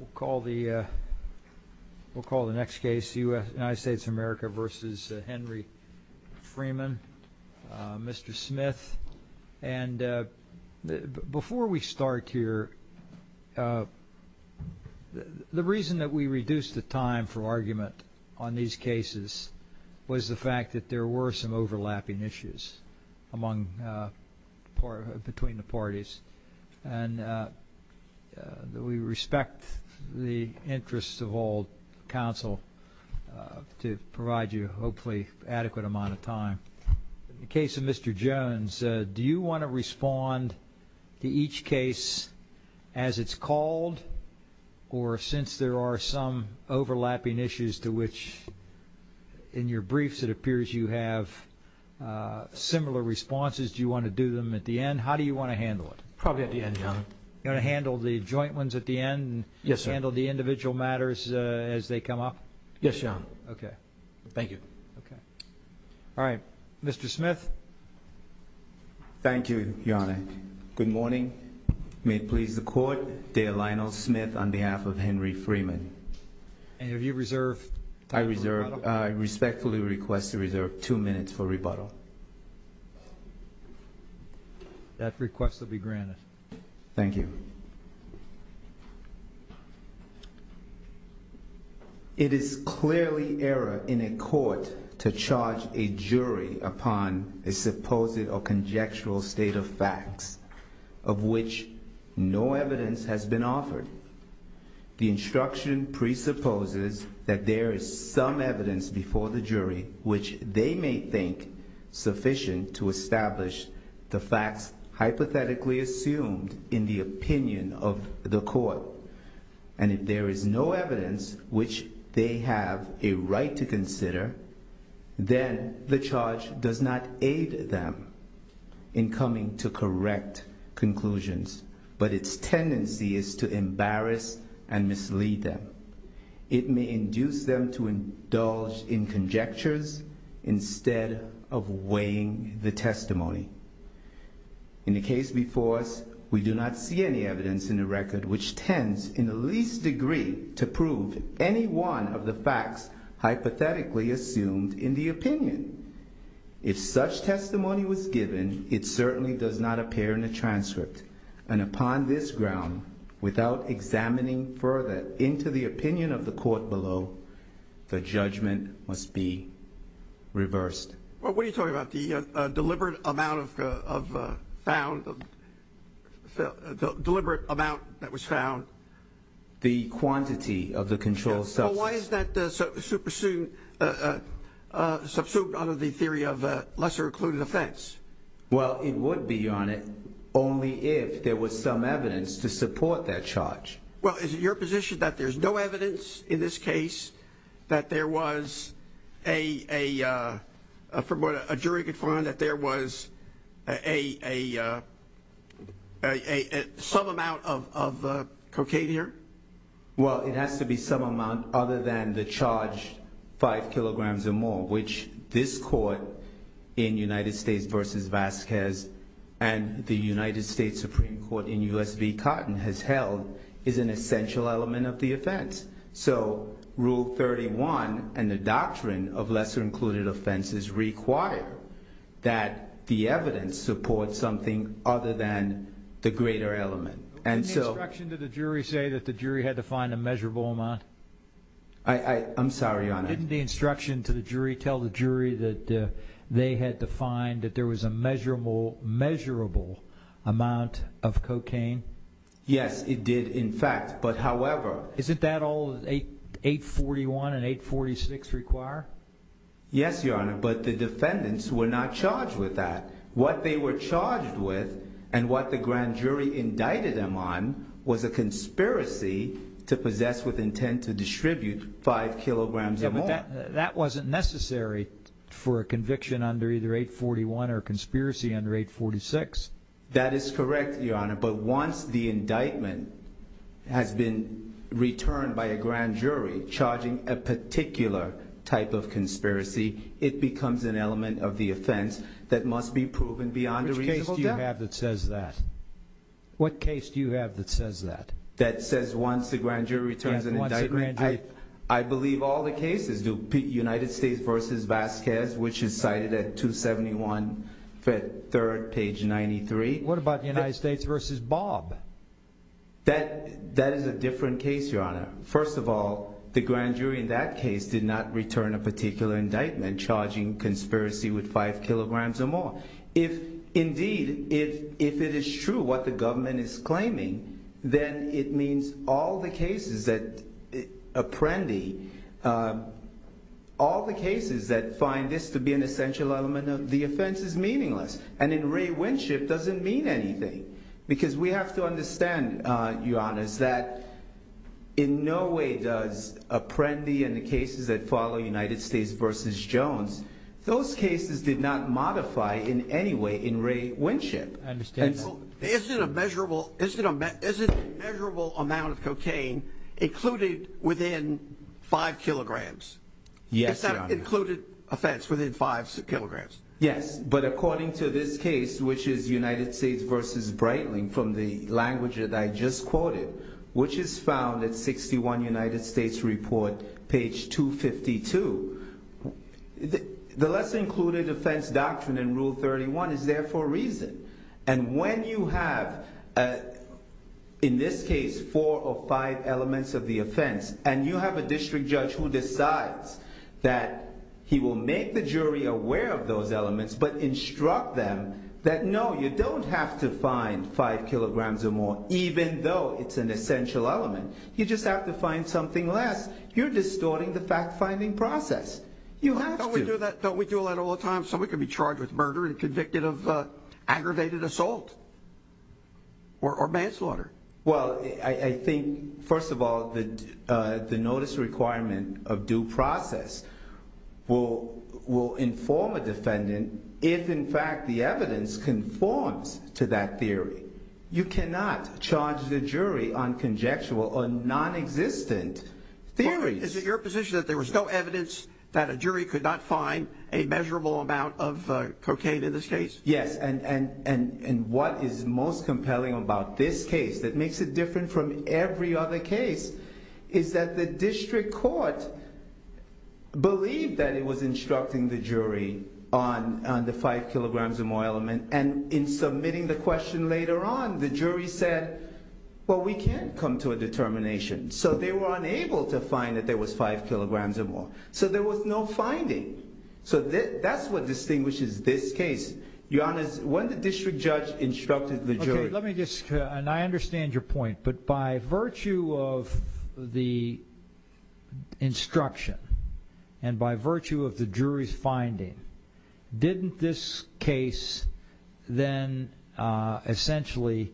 We'll call the next case United States of America v. Henry Freeman. Mr. Smith, and before we start here, the reason that we reduced the time for argument on these cases was the fact that we respect the interests of all counsel to provide you hopefully adequate amount of time. In the case of Mr. Jones, do you want to respond to each case as it's called or since there are some overlapping issues to which in your briefs it appears you have similar responses, do you want to do them at the end? How do you want to handle it? Probably at the end, Your Honor. You want to handle the joint ones at the end and handle the individual matters as they come up? Yes, Your Honor. Okay. Thank you. All right. Mr. Smith. Thank you, Your Honor. Good morning. May it please the Court, Dale Lionel Smith on behalf of Henry Freeman. And have you reserved time for rebuttal? I respectfully request to reserve two minutes for rebuttal. That request will be granted. Thank you. It is clearly error in a court to charge a jury upon a supposed or conjectural state of facts of which no evidence has been offered. The instruction presupposes that there is some evidence which they may think sufficient to establish the facts hypothetically assumed in the opinion of the court. And if there is no evidence which they have a right to consider, then the charge does not aid them in coming to correct conclusions. But its of weighing the testimony. In the case before us, we do not see any evidence in the record which tends in the least degree to prove any one of the facts hypothetically assumed in the opinion. If such testimony was given, it certainly does not appear in the transcript. And upon this ground, without examining further into the opinion of the court below, the judgment must be reversed. Well, what are you talking about? The deliberate amount that was found? The quantity of the controlled substance. Well, why is that subsumed under the theory of lesser-included offense? Well, it would be on it only if there was some evidence to support that charge. Well, is it your position that there's no evidence in this case that there was a, from what a jury could find, that there was a, a, a, a, a, some amount of, of cocaine here? Well, it has to be some amount other than the charged five kilograms or more, which this court in United States v. Vasquez and the United States Supreme Court in U.S. v. Cotton has held is an essential element of the offense. So Rule 31 and the doctrine of lesser-included offense is required that the evidence support something other than the greater element. And so... Didn't the instruction to the jury say that the jury had to find a measurable amount? I, I, I'm sorry, Your Honor. Didn't the instruction to the jury tell the jury that they had to find that there was a measurable, measurable amount of cocaine? Yes, it did, in fact. But however... Isn't that all 8, 841 and 846 require? Yes, Your Honor, but the defendants were not charged with that. What they were charged with and what the grand jury indicted them on was a conspiracy to possess with intent to distribute five kilograms or more. But that, that wasn't necessary for a conviction under either 841 or conspiracy under 846. That is correct, Your Honor, but once the indictment has been returned by a grand jury charging a particular type of conspiracy, it becomes an element of the offense that must be proven beyond a reasonable doubt. Which case do you have that says that? What case do you have that says that? That says once the grand jury returns an indictment? Yes, once the grand jury... I, I believe all the cases do. United States v. Vasquez, which is cited at 271 3rd, page 93. What about United States v. Bob? That, that is a different case, Your Honor. First of all, the grand jury in that case did not return a particular indictment charging conspiracy with five kilograms or more. If indeed, if, if it is true what the government is claiming, then it means all the cases that Apprendi, all the cases that find this to be an essential element of the offense is meaningless. And in Ray Winship, it doesn't mean anything. Because we have to understand, Your Honors, that in no way does Apprendi and the cases that follow United States v. Jones, those cases did not modify in any way in Ray Winship. I understand that. So, isn't a measurable, isn't a, isn't a measurable amount of cocaine included within five kilograms? Yes, Your Honor. Is that included offense within five kilograms? Yes, but according to this case, which is United States v. Breitling, from the language that I just quoted, which is found at 61 United States Report, page 252, the, the less included offense doctrine in Rule 31 is there for a reason. And when you have, in this case, four or five elements of the offense, and you have a district judge who decides that he will make the jury aware of those elements, but instruct them that no, you don't have to find five kilograms or more, even though it's an essential element. You just have to find something less. You're distorting the fact-finding process. You have to. Don't we do that, don't we do that all the time? Someone could be charged with murder and convicted of aggravated assault or manslaughter. Well, I, I think, first of all, the, the notice requirement of due process will, will inform a defendant if, in fact, the evidence conforms to that theory. You cannot charge the jury on conjectural or non-existent theories. Is it your position that there was no evidence that a jury could not find a measurable amount of cocaine in this case? Yes. And, and, and, and what is most compelling about this case that makes it different from every other case is that the district court believed that it was instructing the jury on, on the five kilograms or more element. And in submitting the question later on, the jury said, well, we can't come to a determination. So they were unable to find that there was five kilograms or more. So there was no finding. So that, that's what distinguishes this case. Your Honor, when the district judge instructed the jury. Okay, let me just, and I understand your point, but by virtue of the instruction and by virtue of the jury's finding, didn't this case then essentially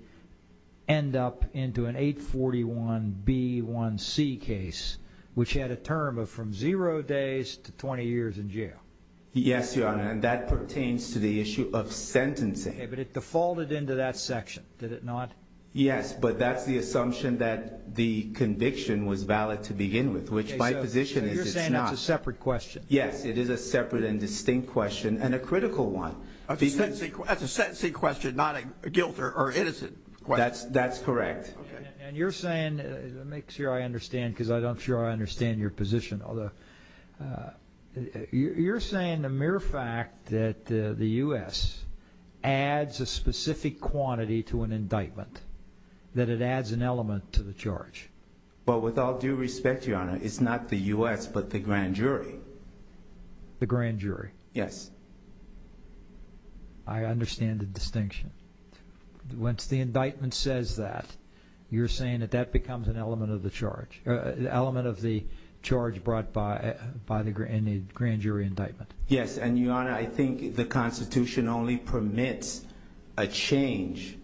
end up into an 841B1C case, which had a term of from zero days to 20 years in jail? Yes, Your Honor, and that pertains to the issue of sentencing. Okay, but it defaulted into that section, did it not? Yes, but that's the assumption that the conviction was valid to begin with, which my position is it's not. Okay, so you're saying it's a separate question? Yes, it is a separate and distinct question and a critical one. A sentencing, that's a not a guilt or innocent question. That's correct. And you're saying, let me make sure I understand, because I'm not sure I understand your position. You're saying the mere fact that the U.S. adds a specific quantity to an indictment, that it adds an element to the charge? Well, with all due respect, Your Honor, it's not the U.S., but the grand jury. The grand jury? Yes. I understand the distinction. Once the indictment says that, you're saying that that becomes an element of the charge, an element of the charge brought by the grand jury indictment? Yes, and Your Honor, I think the Constitution only permits a change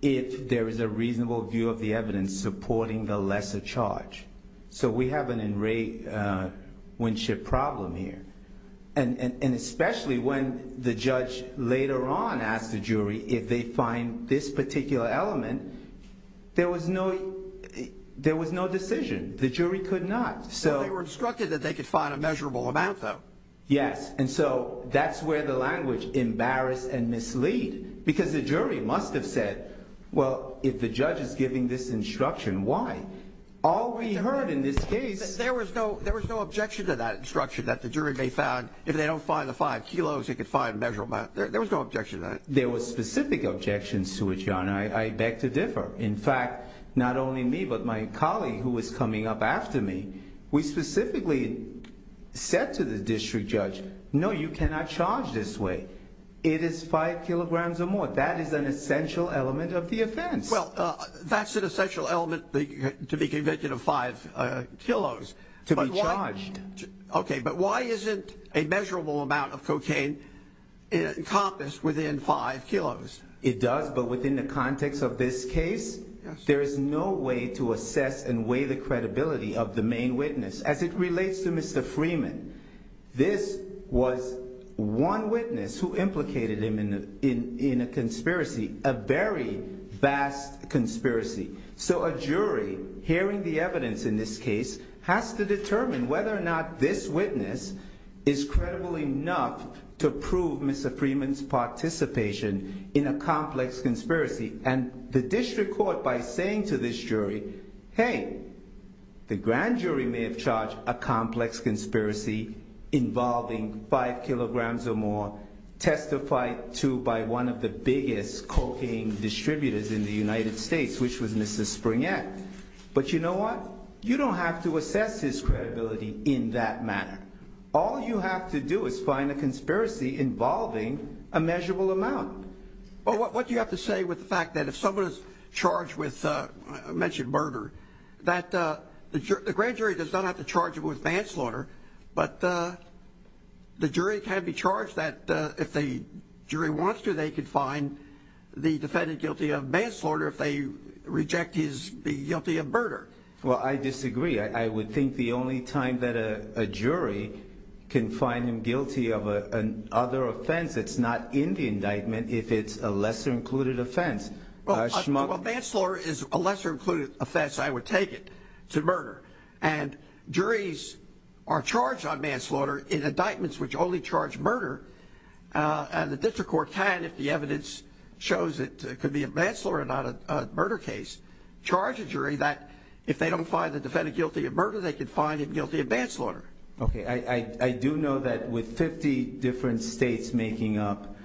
if there is a reasonable view of the evidence supporting the lesser charge. So we have an in re winship problem here. And especially when the judge later on asked the jury if they find this particular element, there was no decision. The jury could not. So they were instructed that they could find a measurable amount, though. Yes, and so that's where the judge is giving this instruction. Why? All we heard in this case... There was no objection to that instruction, that the jury may find, if they don't find the five kilos, they could find a measurable amount. There was no objection to that. There was specific objections to it, Your Honor. I beg to differ. In fact, not only me, but my colleague who was coming up after me, we specifically said to the district judge, no, you cannot charge this way. It is five kilograms or more. That is an essential element of the offense. Well, that's an essential element to be convicted of five kilos. To be charged. Okay, but why isn't a measurable amount of cocaine encompassed within five kilos? It does, but within the context of this case, there is no way to assess and weigh the credibility of the main witness. As it is, there is no credibility in a conspiracy, a very vast conspiracy. So a jury, hearing the evidence in this case, has to determine whether or not this witness is credible enough to prove Mr. Freeman's participation in a complex conspiracy. And the district court, by saying to this jury, hey, the grand jury may have charged a complex conspiracy involving five kilograms or more, testified to by one of the biggest cocaine distributors in the United States, which was Mr. Springett. But you know what? You don't have to assess his credibility in that manner. All you have to do is find a conspiracy involving a measurable amount. Well, what do you have to say with the fact that if someone is charged with, I mentioned murder, that the grand jury does not have to charge them with manslaughter, but the jury can be charged that if the jury wants to, they can find the defendant guilty of manslaughter if they reject his guilty of murder. Well, I disagree. I would think the only time that a jury can find him guilty of an other offense that's not in the indictment if it's a lesser included offense. Manslaughter is a lesser included offense, I would take it, to murder. And juries are charged on manslaughter in indictments which only charge murder. And the district court can, if the evidence shows it could be a manslaughter and not a murder case, charge a jury that if they don't find the defendant guilty of murder, they can find him guilty of manslaughter. Okay. I do know that with 50 different states making up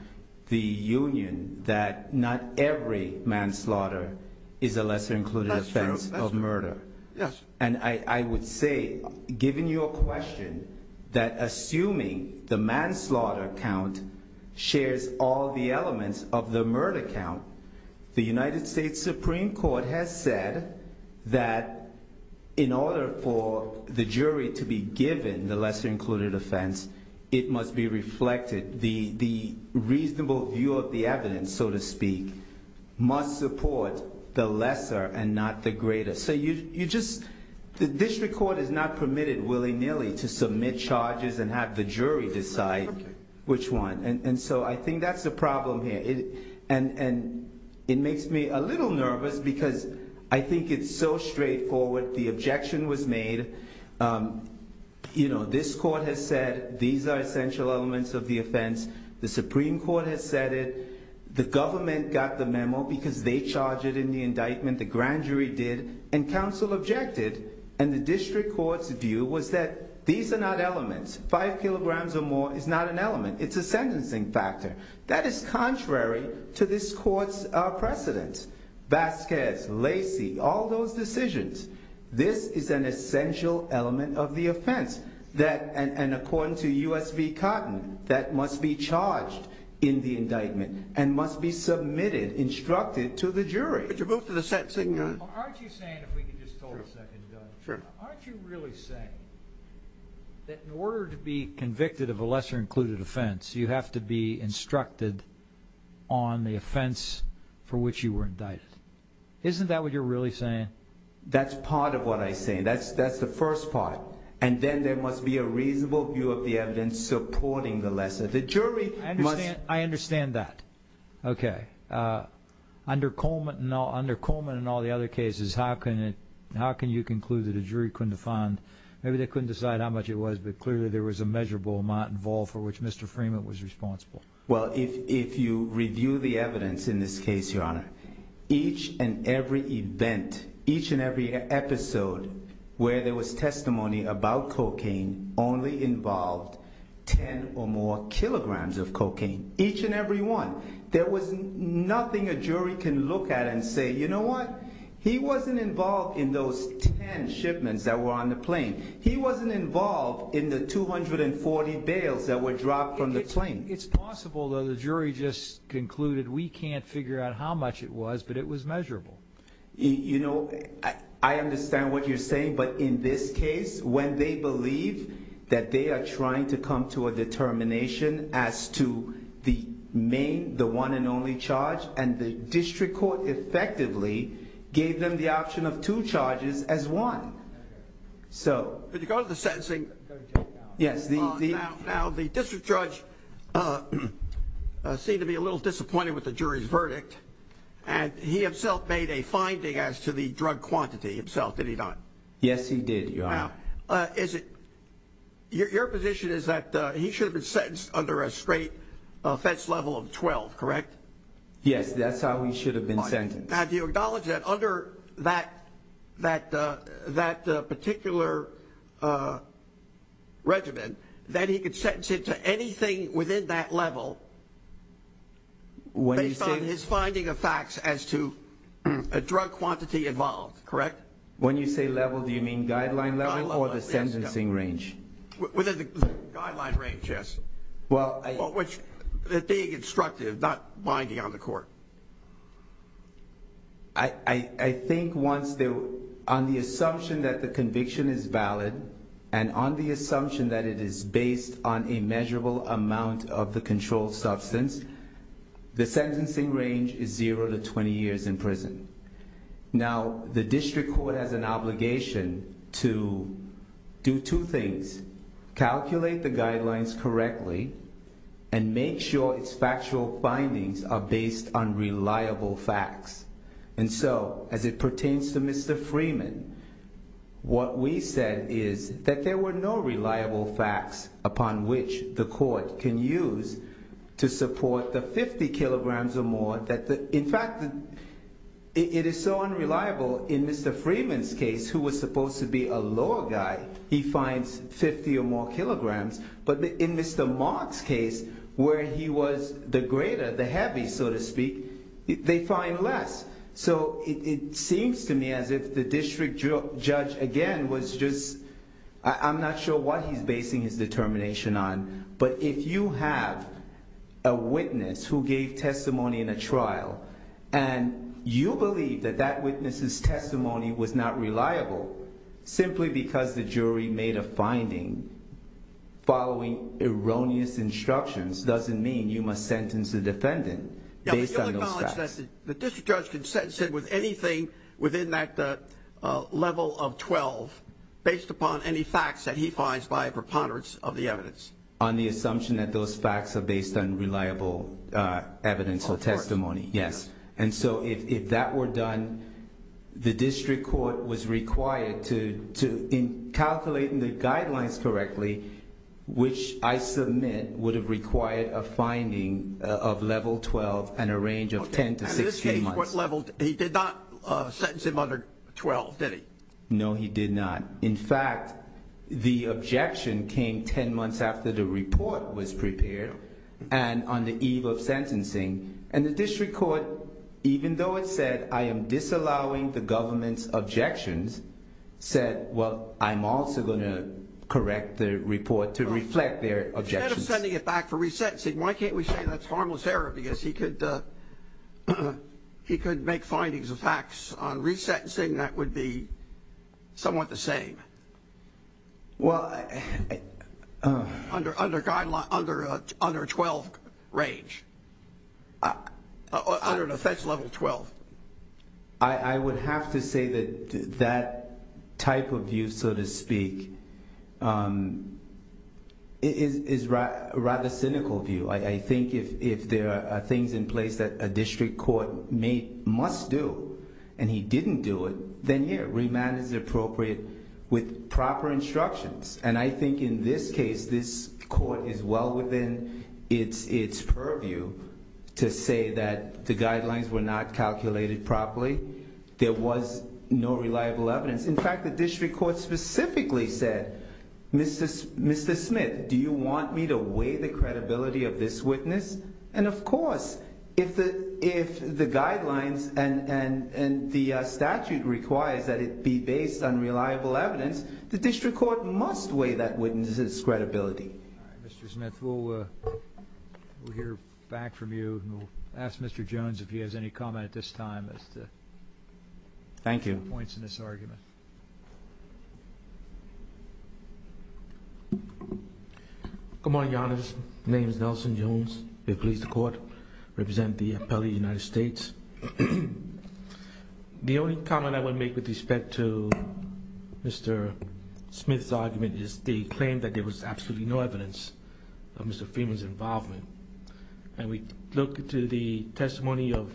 the union, that not every manslaughter is a lesser included offense of murder. Yes. And I would say, given your question, that assuming the manslaughter count shares all the elements of the murder count, the United States Supreme Court has said that in order for the jury to be given the lesser included offense, it must be reflected, the reasonable view of the evidence, so to speak, must support the lesser and not the greater. So you just, the district court is not permitted willy-nilly to submit charges and have the jury decide which one. And so I think that's the problem here. And it makes me a little nervous because I think it's so straightforward. The objection was made. You know, this court has said these are essential elements of the offense. The government got the memo because they charged it in the indictment, the grand jury did, and counsel objected. And the district court's view was that these are not elements. Five kilograms or more is not an element. It's a sentencing factor. That is contrary to this court's precedent. Vasquez, Lacey, all those decisions. This is an essential element of the offense. And according to USV Cotton, that must be charged in the indictment and must be submitted, instructed, to the jury. But you're going for the sentencing gun. Well, aren't you saying, if we could just hold a second, Doug. Sure. Aren't you really saying that in order to be convicted of a lesser included offense, you have to be instructed on the offense for which you were indicted? Isn't that what you're really saying? That's part of what I say. That's the first part. And then there must be a reasonable view of the evidence supporting the lesser. The jury must... I understand that. Okay. Under Coleman and all the other cases, how can you conclude that a jury couldn't have found... Maybe they couldn't decide how much it was, but clearly there was a measurable amount involved for which Mr. Freeman was responsible. Well, if you review the evidence in this case, Your Honor, each and every event, each and every episode where there was testimony about cocaine only involved 10 or more kilograms of cocaine. Each and every one. There was nothing a jury can look at and say, you know what? He wasn't involved in those 10 shipments that were on the plane. He wasn't involved in the 240 bales that were dropped from the plane. It's possible though the jury just concluded we can't figure out how much it was, but it was measurable. You know, I understand what you're saying, but in this case, when they believe that they are trying to come to a determination as to the main, the one and only charge, and the district court effectively gave them the option of two charges as one. So... Because of the sentencing... Yes, the... Now the district judge seemed to be a little disappointed with the jury's verdict, and he himself made a finding as to the drug quantity himself, did he not? Yes, he did, Your Honor. Now, is it... Your position is that he should have been sentenced under a straight offense level of 12, correct? Yes, that's how he should have been sentenced. Now, do you acknowledge that under that particular regimen, that he could have been sentenced under a level of 12, correct? When you say level, do you mean guideline level or the sentencing range? Within the guideline range, yes. Well, I... Being instructive, not binding on the court. I think once they... On the assumption that the conviction is valid, and on the assumption that it is based on a measurable amount of the controlled substance, the sentencing range is zero to 20 years in prison. Now, the district court has an obligation to do two things. Calculate the guidelines correctly, and make sure its factual findings are based on reliable facts. And so, as it pertains to Mr. Freeman, what we said is that there were no reliable facts upon which the court can use to support the 50 kilograms or more that the... In fact, it is so unreliable in Mr. Freeman's case, who was supposed to be a lower guy, he finds 50 or more kilograms. But in Mr. Mark's case, where he was the greater, the heavy, so to speak, they find less. So, it seems to me as if the district judge, again, was just... I'm not sure what he's basing his determination on, but if you have a witness who gave testimony in a trial, and you believe that that witness's testimony was not reliable simply because the jury made a finding following erroneous instructions, doesn't mean you must sentence the defendant based on those facts. Now, we do acknowledge that the district judge can sentence him with anything within that level of 12, based upon any facts that he finds by a preponderance of the evidence. On the assumption that those facts are based on reliable evidence or testimony, yes. And so, if that were done, the district court was required to, in calculating the guidelines correctly, which I submit would have required a finding of level 12 and a range of 10 to 16 months. Okay. At this stage, what level... He did not sentence him under 12, did he? No, he did not. In fact, the objection came 10 months after the report was prepared and on the eve of sentencing. And the district court, even though it said, I am disallowing the government's objections, said, well, I'm also going to correct the report to reflect their objections. Instead of sending it back for re-sentencing, why can't we say that's harmless error because he could make findings of facts on re-sentencing that would be somewhat the same? Well... Under guideline... Under 12 range. Under an offense level 12. I would have to say that that type of view, so to speak, is rational. Rather cynical view. I think if there are things in place that a district court must do and he didn't do it, then yeah, remand is appropriate with proper instructions. And I think in this case, this court is well within its purview to say that the guidelines were not calculated properly. There was no reliable evidence. In fact, the district court specifically said, Mr. Smith, do you want me to weigh the credibility of this witness? And of course, if the guidelines and the statute requires that it be based on reliable evidence, the district court must weigh that witness's credibility. All right, Mr. Smith, we'll hear back from you and we'll ask Mr. Jones if he has any comment at this time as to... Thank you. ...any points in this argument. Good morning, Your Honor. My name is Nelson Jones. I represent the Appellate United States. The only comment I would make with respect to Mr. Smith's argument is the claim that there was absolutely no evidence of Mr. Freeman's involvement. And we look to the testimony of...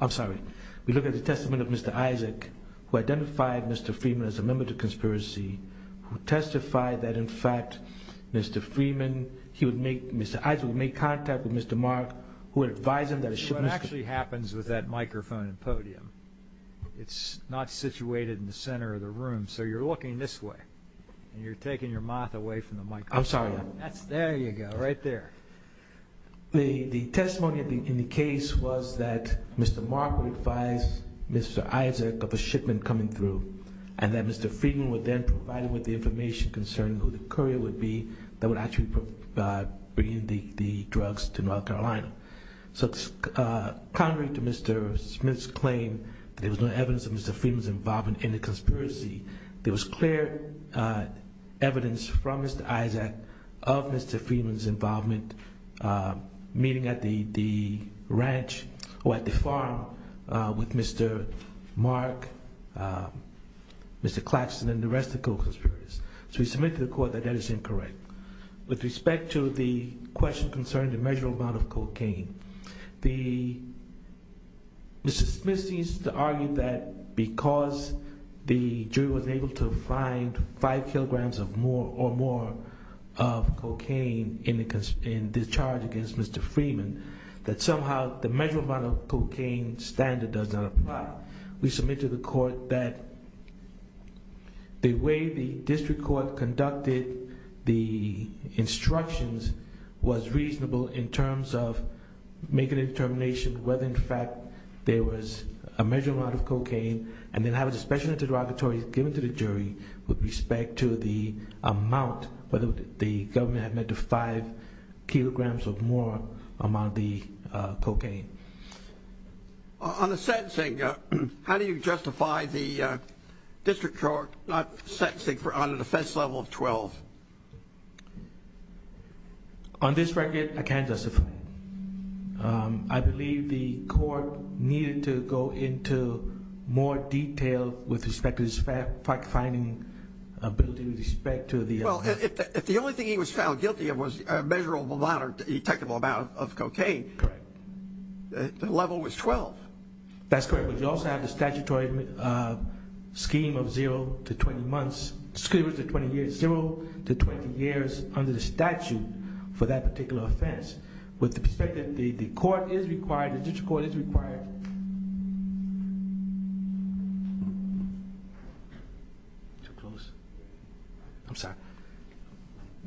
I'm sorry. We look at the testimony of Mr. Isaac, who identified Mr. Freeman as a member of the conspiracy, who testified that, in fact, Mr. Freeman, he would make... Mr. Isaac would make contact with Mr. Mark, who would advise him that a shipment... That's what actually happens with that microphone and podium. It's not situated in the center of the room, so you're looking this way, and you're taking your mouth away from the microphone. I'm sorry, Your Honor. There you go. Right there. The testimony in the case was that Mr. Mark would advise Mr. Isaac of a shipment coming through, and that Mr. Freeman would then provide him with the information concerning who the courier would be that would actually be bringing the drugs to North Carolina. So contrary to Mr. Smith's claim that there was no evidence of Mr. Freeman's involvement in the conspiracy, there was clear evidence from Mr. Isaac of Mr. Freeman's involvement meeting at the ranch or at the farm with Mr. Mark, Mr. Claxton, and the rest of the co-conspirators. So we submit to the court that that is incorrect. With respect to the question concerning the measurable amount of cocaine, Mr. Smith seems to argue that because the jury wasn't able to find five kilograms or more of cocaine in this charge against Mr. Freeman, that somehow the measurable amount of cocaine standard does not apply. We submit to the court that the way the district court conducted the instructions was reasonable in terms of making a determination whether, in fact, there was a measurable amount of cocaine, and then have a discretionary derogatory given to the jury with respect to the amount, whether the government had led to five kilograms or more amount of the cocaine. On the sentencing, how do you justify the district court sentencing on a defense level of 12? On this record, I can't justify it. I believe the court needed to go into more detail with respect to its fact-finding ability with respect to the other. Well, if the only thing he was found guilty of was a measurable amount or detectable amount of cocaine, the level was 12. That's correct, but you also have the statutory scheme of zero to 20 months, excuse me, 20 years, zero to 20 years under the statute for that particular offense. With the perspective that the court is required, the district court is required...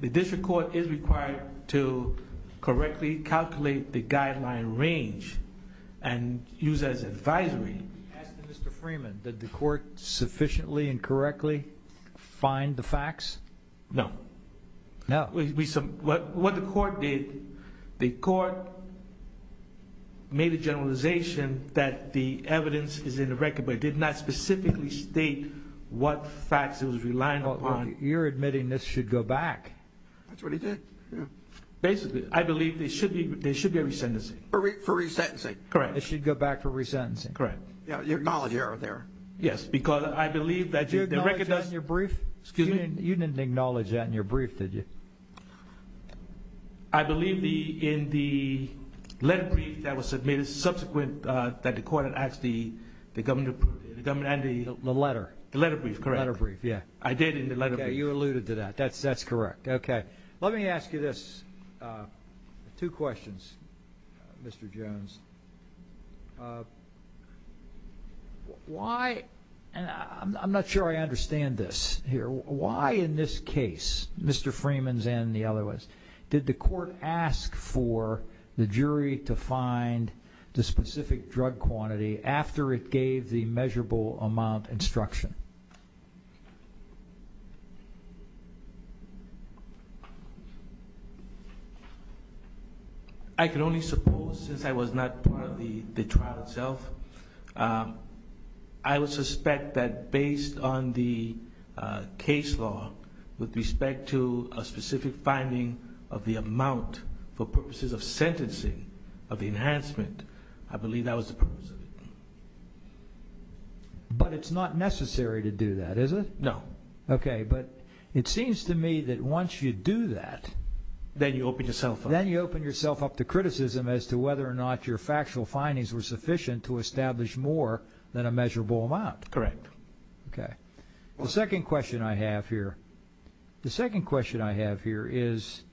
The district court is required to correctly calculate the guideline range and use as advisory. I'm asking Mr. Freeman, did the court sufficiently and correctly find the facts? No. What the court did, the court made a generalization that the evidence is in the record, but it did not specifically state what facts it was reliant upon. You're admitting this should go back. That's what he did, yeah. Basically, I believe there should be a resentencing. For resentencing, correct. It should go back for resentencing. Correct. Your knowledge error there. Yes, because I believe that the record does... You acknowledged that in your brief? Excuse me? You didn't acknowledge that in your brief, did you? I believe in the letter brief that was submitted subsequent that the court had asked the government and the... The letter. The letter brief, correct. Letter brief, yeah. I did in the letter brief. You alluded to that. That's correct. Okay. Let me ask you this, two questions, Mr. Jones. Why, and I'm not sure I understand this here, why in this case, Mr. Freeman's and the other ones, did the court ask for the jury to find the specific drug quantity after it gave the measurable amount instruction? I can only suppose, since I was not part of the trial itself, I would suspect that based on the case law with respect to a specific finding of the amount for purposes of sentencing, of the enhancement, I believe that was the purpose of it. But it's not necessary to do that, is it? No. Okay. But it seems to me that once you do that... Then you open yourself up. Then you open yourself up to criticism as to whether or not your factual findings were sufficient to establish more than a measurable amount. Correct. Okay. The second question I have here, the second question I have here is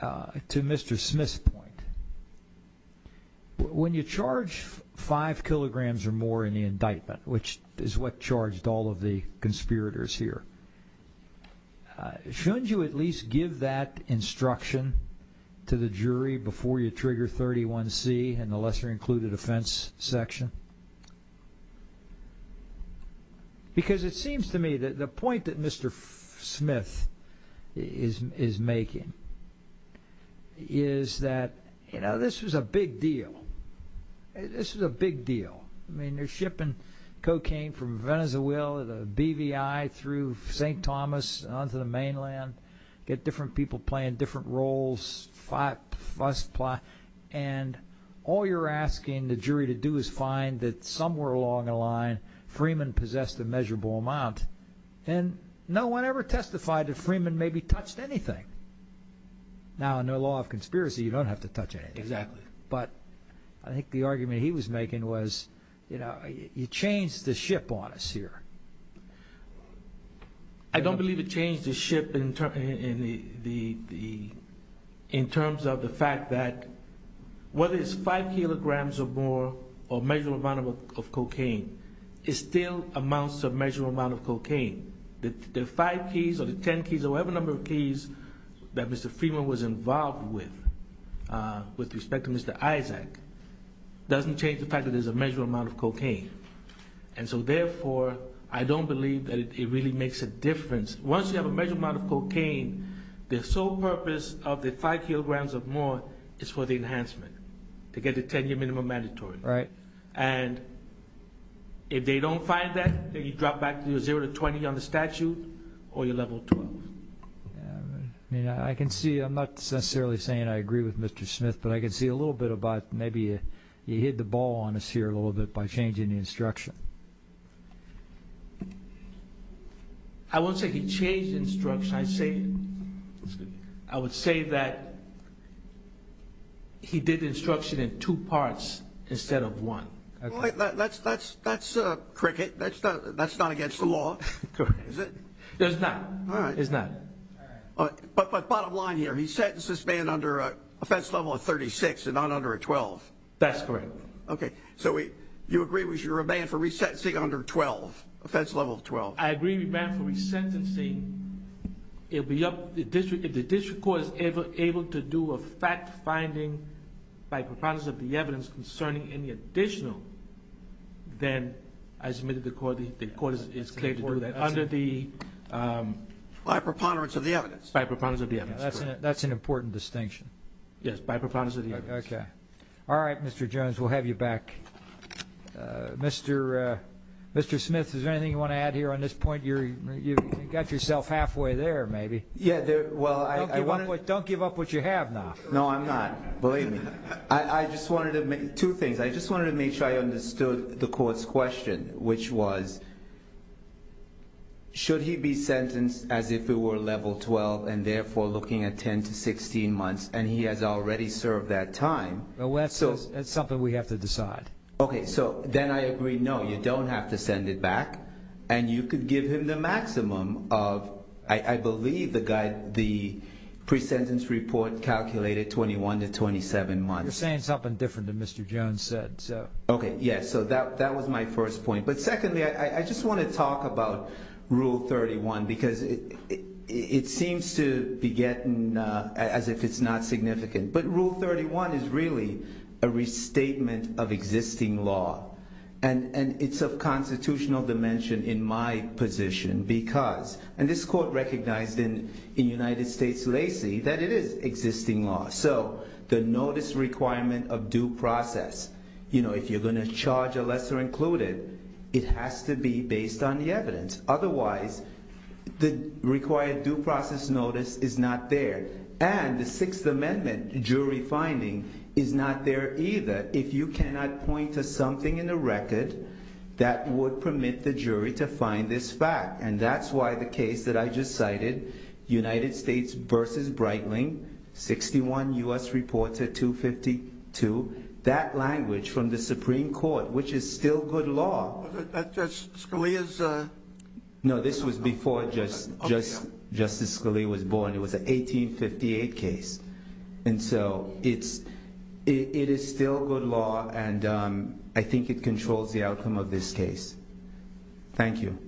to Mr. Smith's point. When you charge five kilograms or more in the indictment, which is what charged all of the conspirators here, shouldn't you at least give that instruction to the jury before you trigger 31C and the lesser-included offense section? Because it seems to me that the point that Mr. Smith is making is that in order for the jury to be able to do that, you know, this was a big deal. This was a big deal. I mean, they're shipping cocaine from Venezuela, the BVI through St. Thomas onto the mainland, get different people playing different roles. And all you're asking the jury to do is find that somewhere along the line, Freeman possessed a measurable amount. And no one ever testified that Freeman maybe touched anything. Now, under the law of conspiracy, you don't have to touch anything. Exactly. But I think the argument he was making was, you know, you changed the ship on us here. I don't believe it changed the ship in terms of the fact that whether it's five kilograms or more or a measurable amount of cocaine, it's still amounts of a measurable amount of cocaine. The five keys or the ten keys or whatever number of keys that Mr. Freeman was involved with, with respect to Mr. Isaac, doesn't change the fact that there's a measurable amount of cocaine. And so therefore, I don't believe that it really makes a difference. Once you have a measurable amount of cocaine, the sole purpose of the five kilograms or more is for the enhancement, to get the 10-year minimum mandatory. Right. And if they don't find that, then you drop back to zero to 20 on the statute or you're level 12. I mean, I can see, I'm not necessarily saying I agree with Mr. Smith, but I can see a little bit about maybe you hit the ball on us here a little bit by changing the instruction. I won't say he changed the instruction. I would say that he did the instruction in two parts instead of one. That's a cricket. That's not against the law. Correct. Is it? It's not. All right. It's not. But bottom line here, he sentenced this man under an offense level of 36 and not under a 12. That's correct. Okay. So you agree with your demand for resentencing under 12, offense level of 12? I agree with the demand for resentencing. If the district court is ever able to do a fact finding by preponderance of the evidence concerning any additional, then I submit to the court that the court is clear to do that under the... By preponderance of the evidence. By preponderance of the evidence. That's an important distinction. Yes, by preponderance of the evidence. Okay. All right, Mr. Jones, we'll have you back. Mr. Smith, is there anything you want to add here on this point? You got yourself halfway there maybe. Yeah, well, I... Don't give up what you have now. No, I'm not. Believe me. I just wanted to make... Two things. I just wanted to make sure I understood the court's question, which was, should he be sentenced as if it were level 12 and therefore looking at 10 to 16 months and he has already served that time? Well, that's something we have to decide. Okay. So then I agree, no, you don't have to send it back. And you could give him the 21 to 27 months. You're saying something different than Mr. Jones said, so... Okay, yeah. So that was my first point. But secondly, I just want to talk about Rule 31 because it seems to be getting as if it's not significant. But Rule 31 is really a restatement of existing law. And it's of constitutional dimension in my position because... And this is an existing law. So the notice requirement of due process, if you're going to charge a lesser included, it has to be based on the evidence. Otherwise, the required due process notice is not there. And the Sixth Amendment jury finding is not there either if you cannot point to something in the record that would permit the jury to find this fact. And that's why the case that I just cited, United States versus Breitling, 61 U.S. Reports at 252, that language from the Supreme Court, which is still good law. Scalia's... No, this was before Justice Scalia was born. It was an 1858 case. And so it is still good law and I think it controls the outcome of this case. Thank you.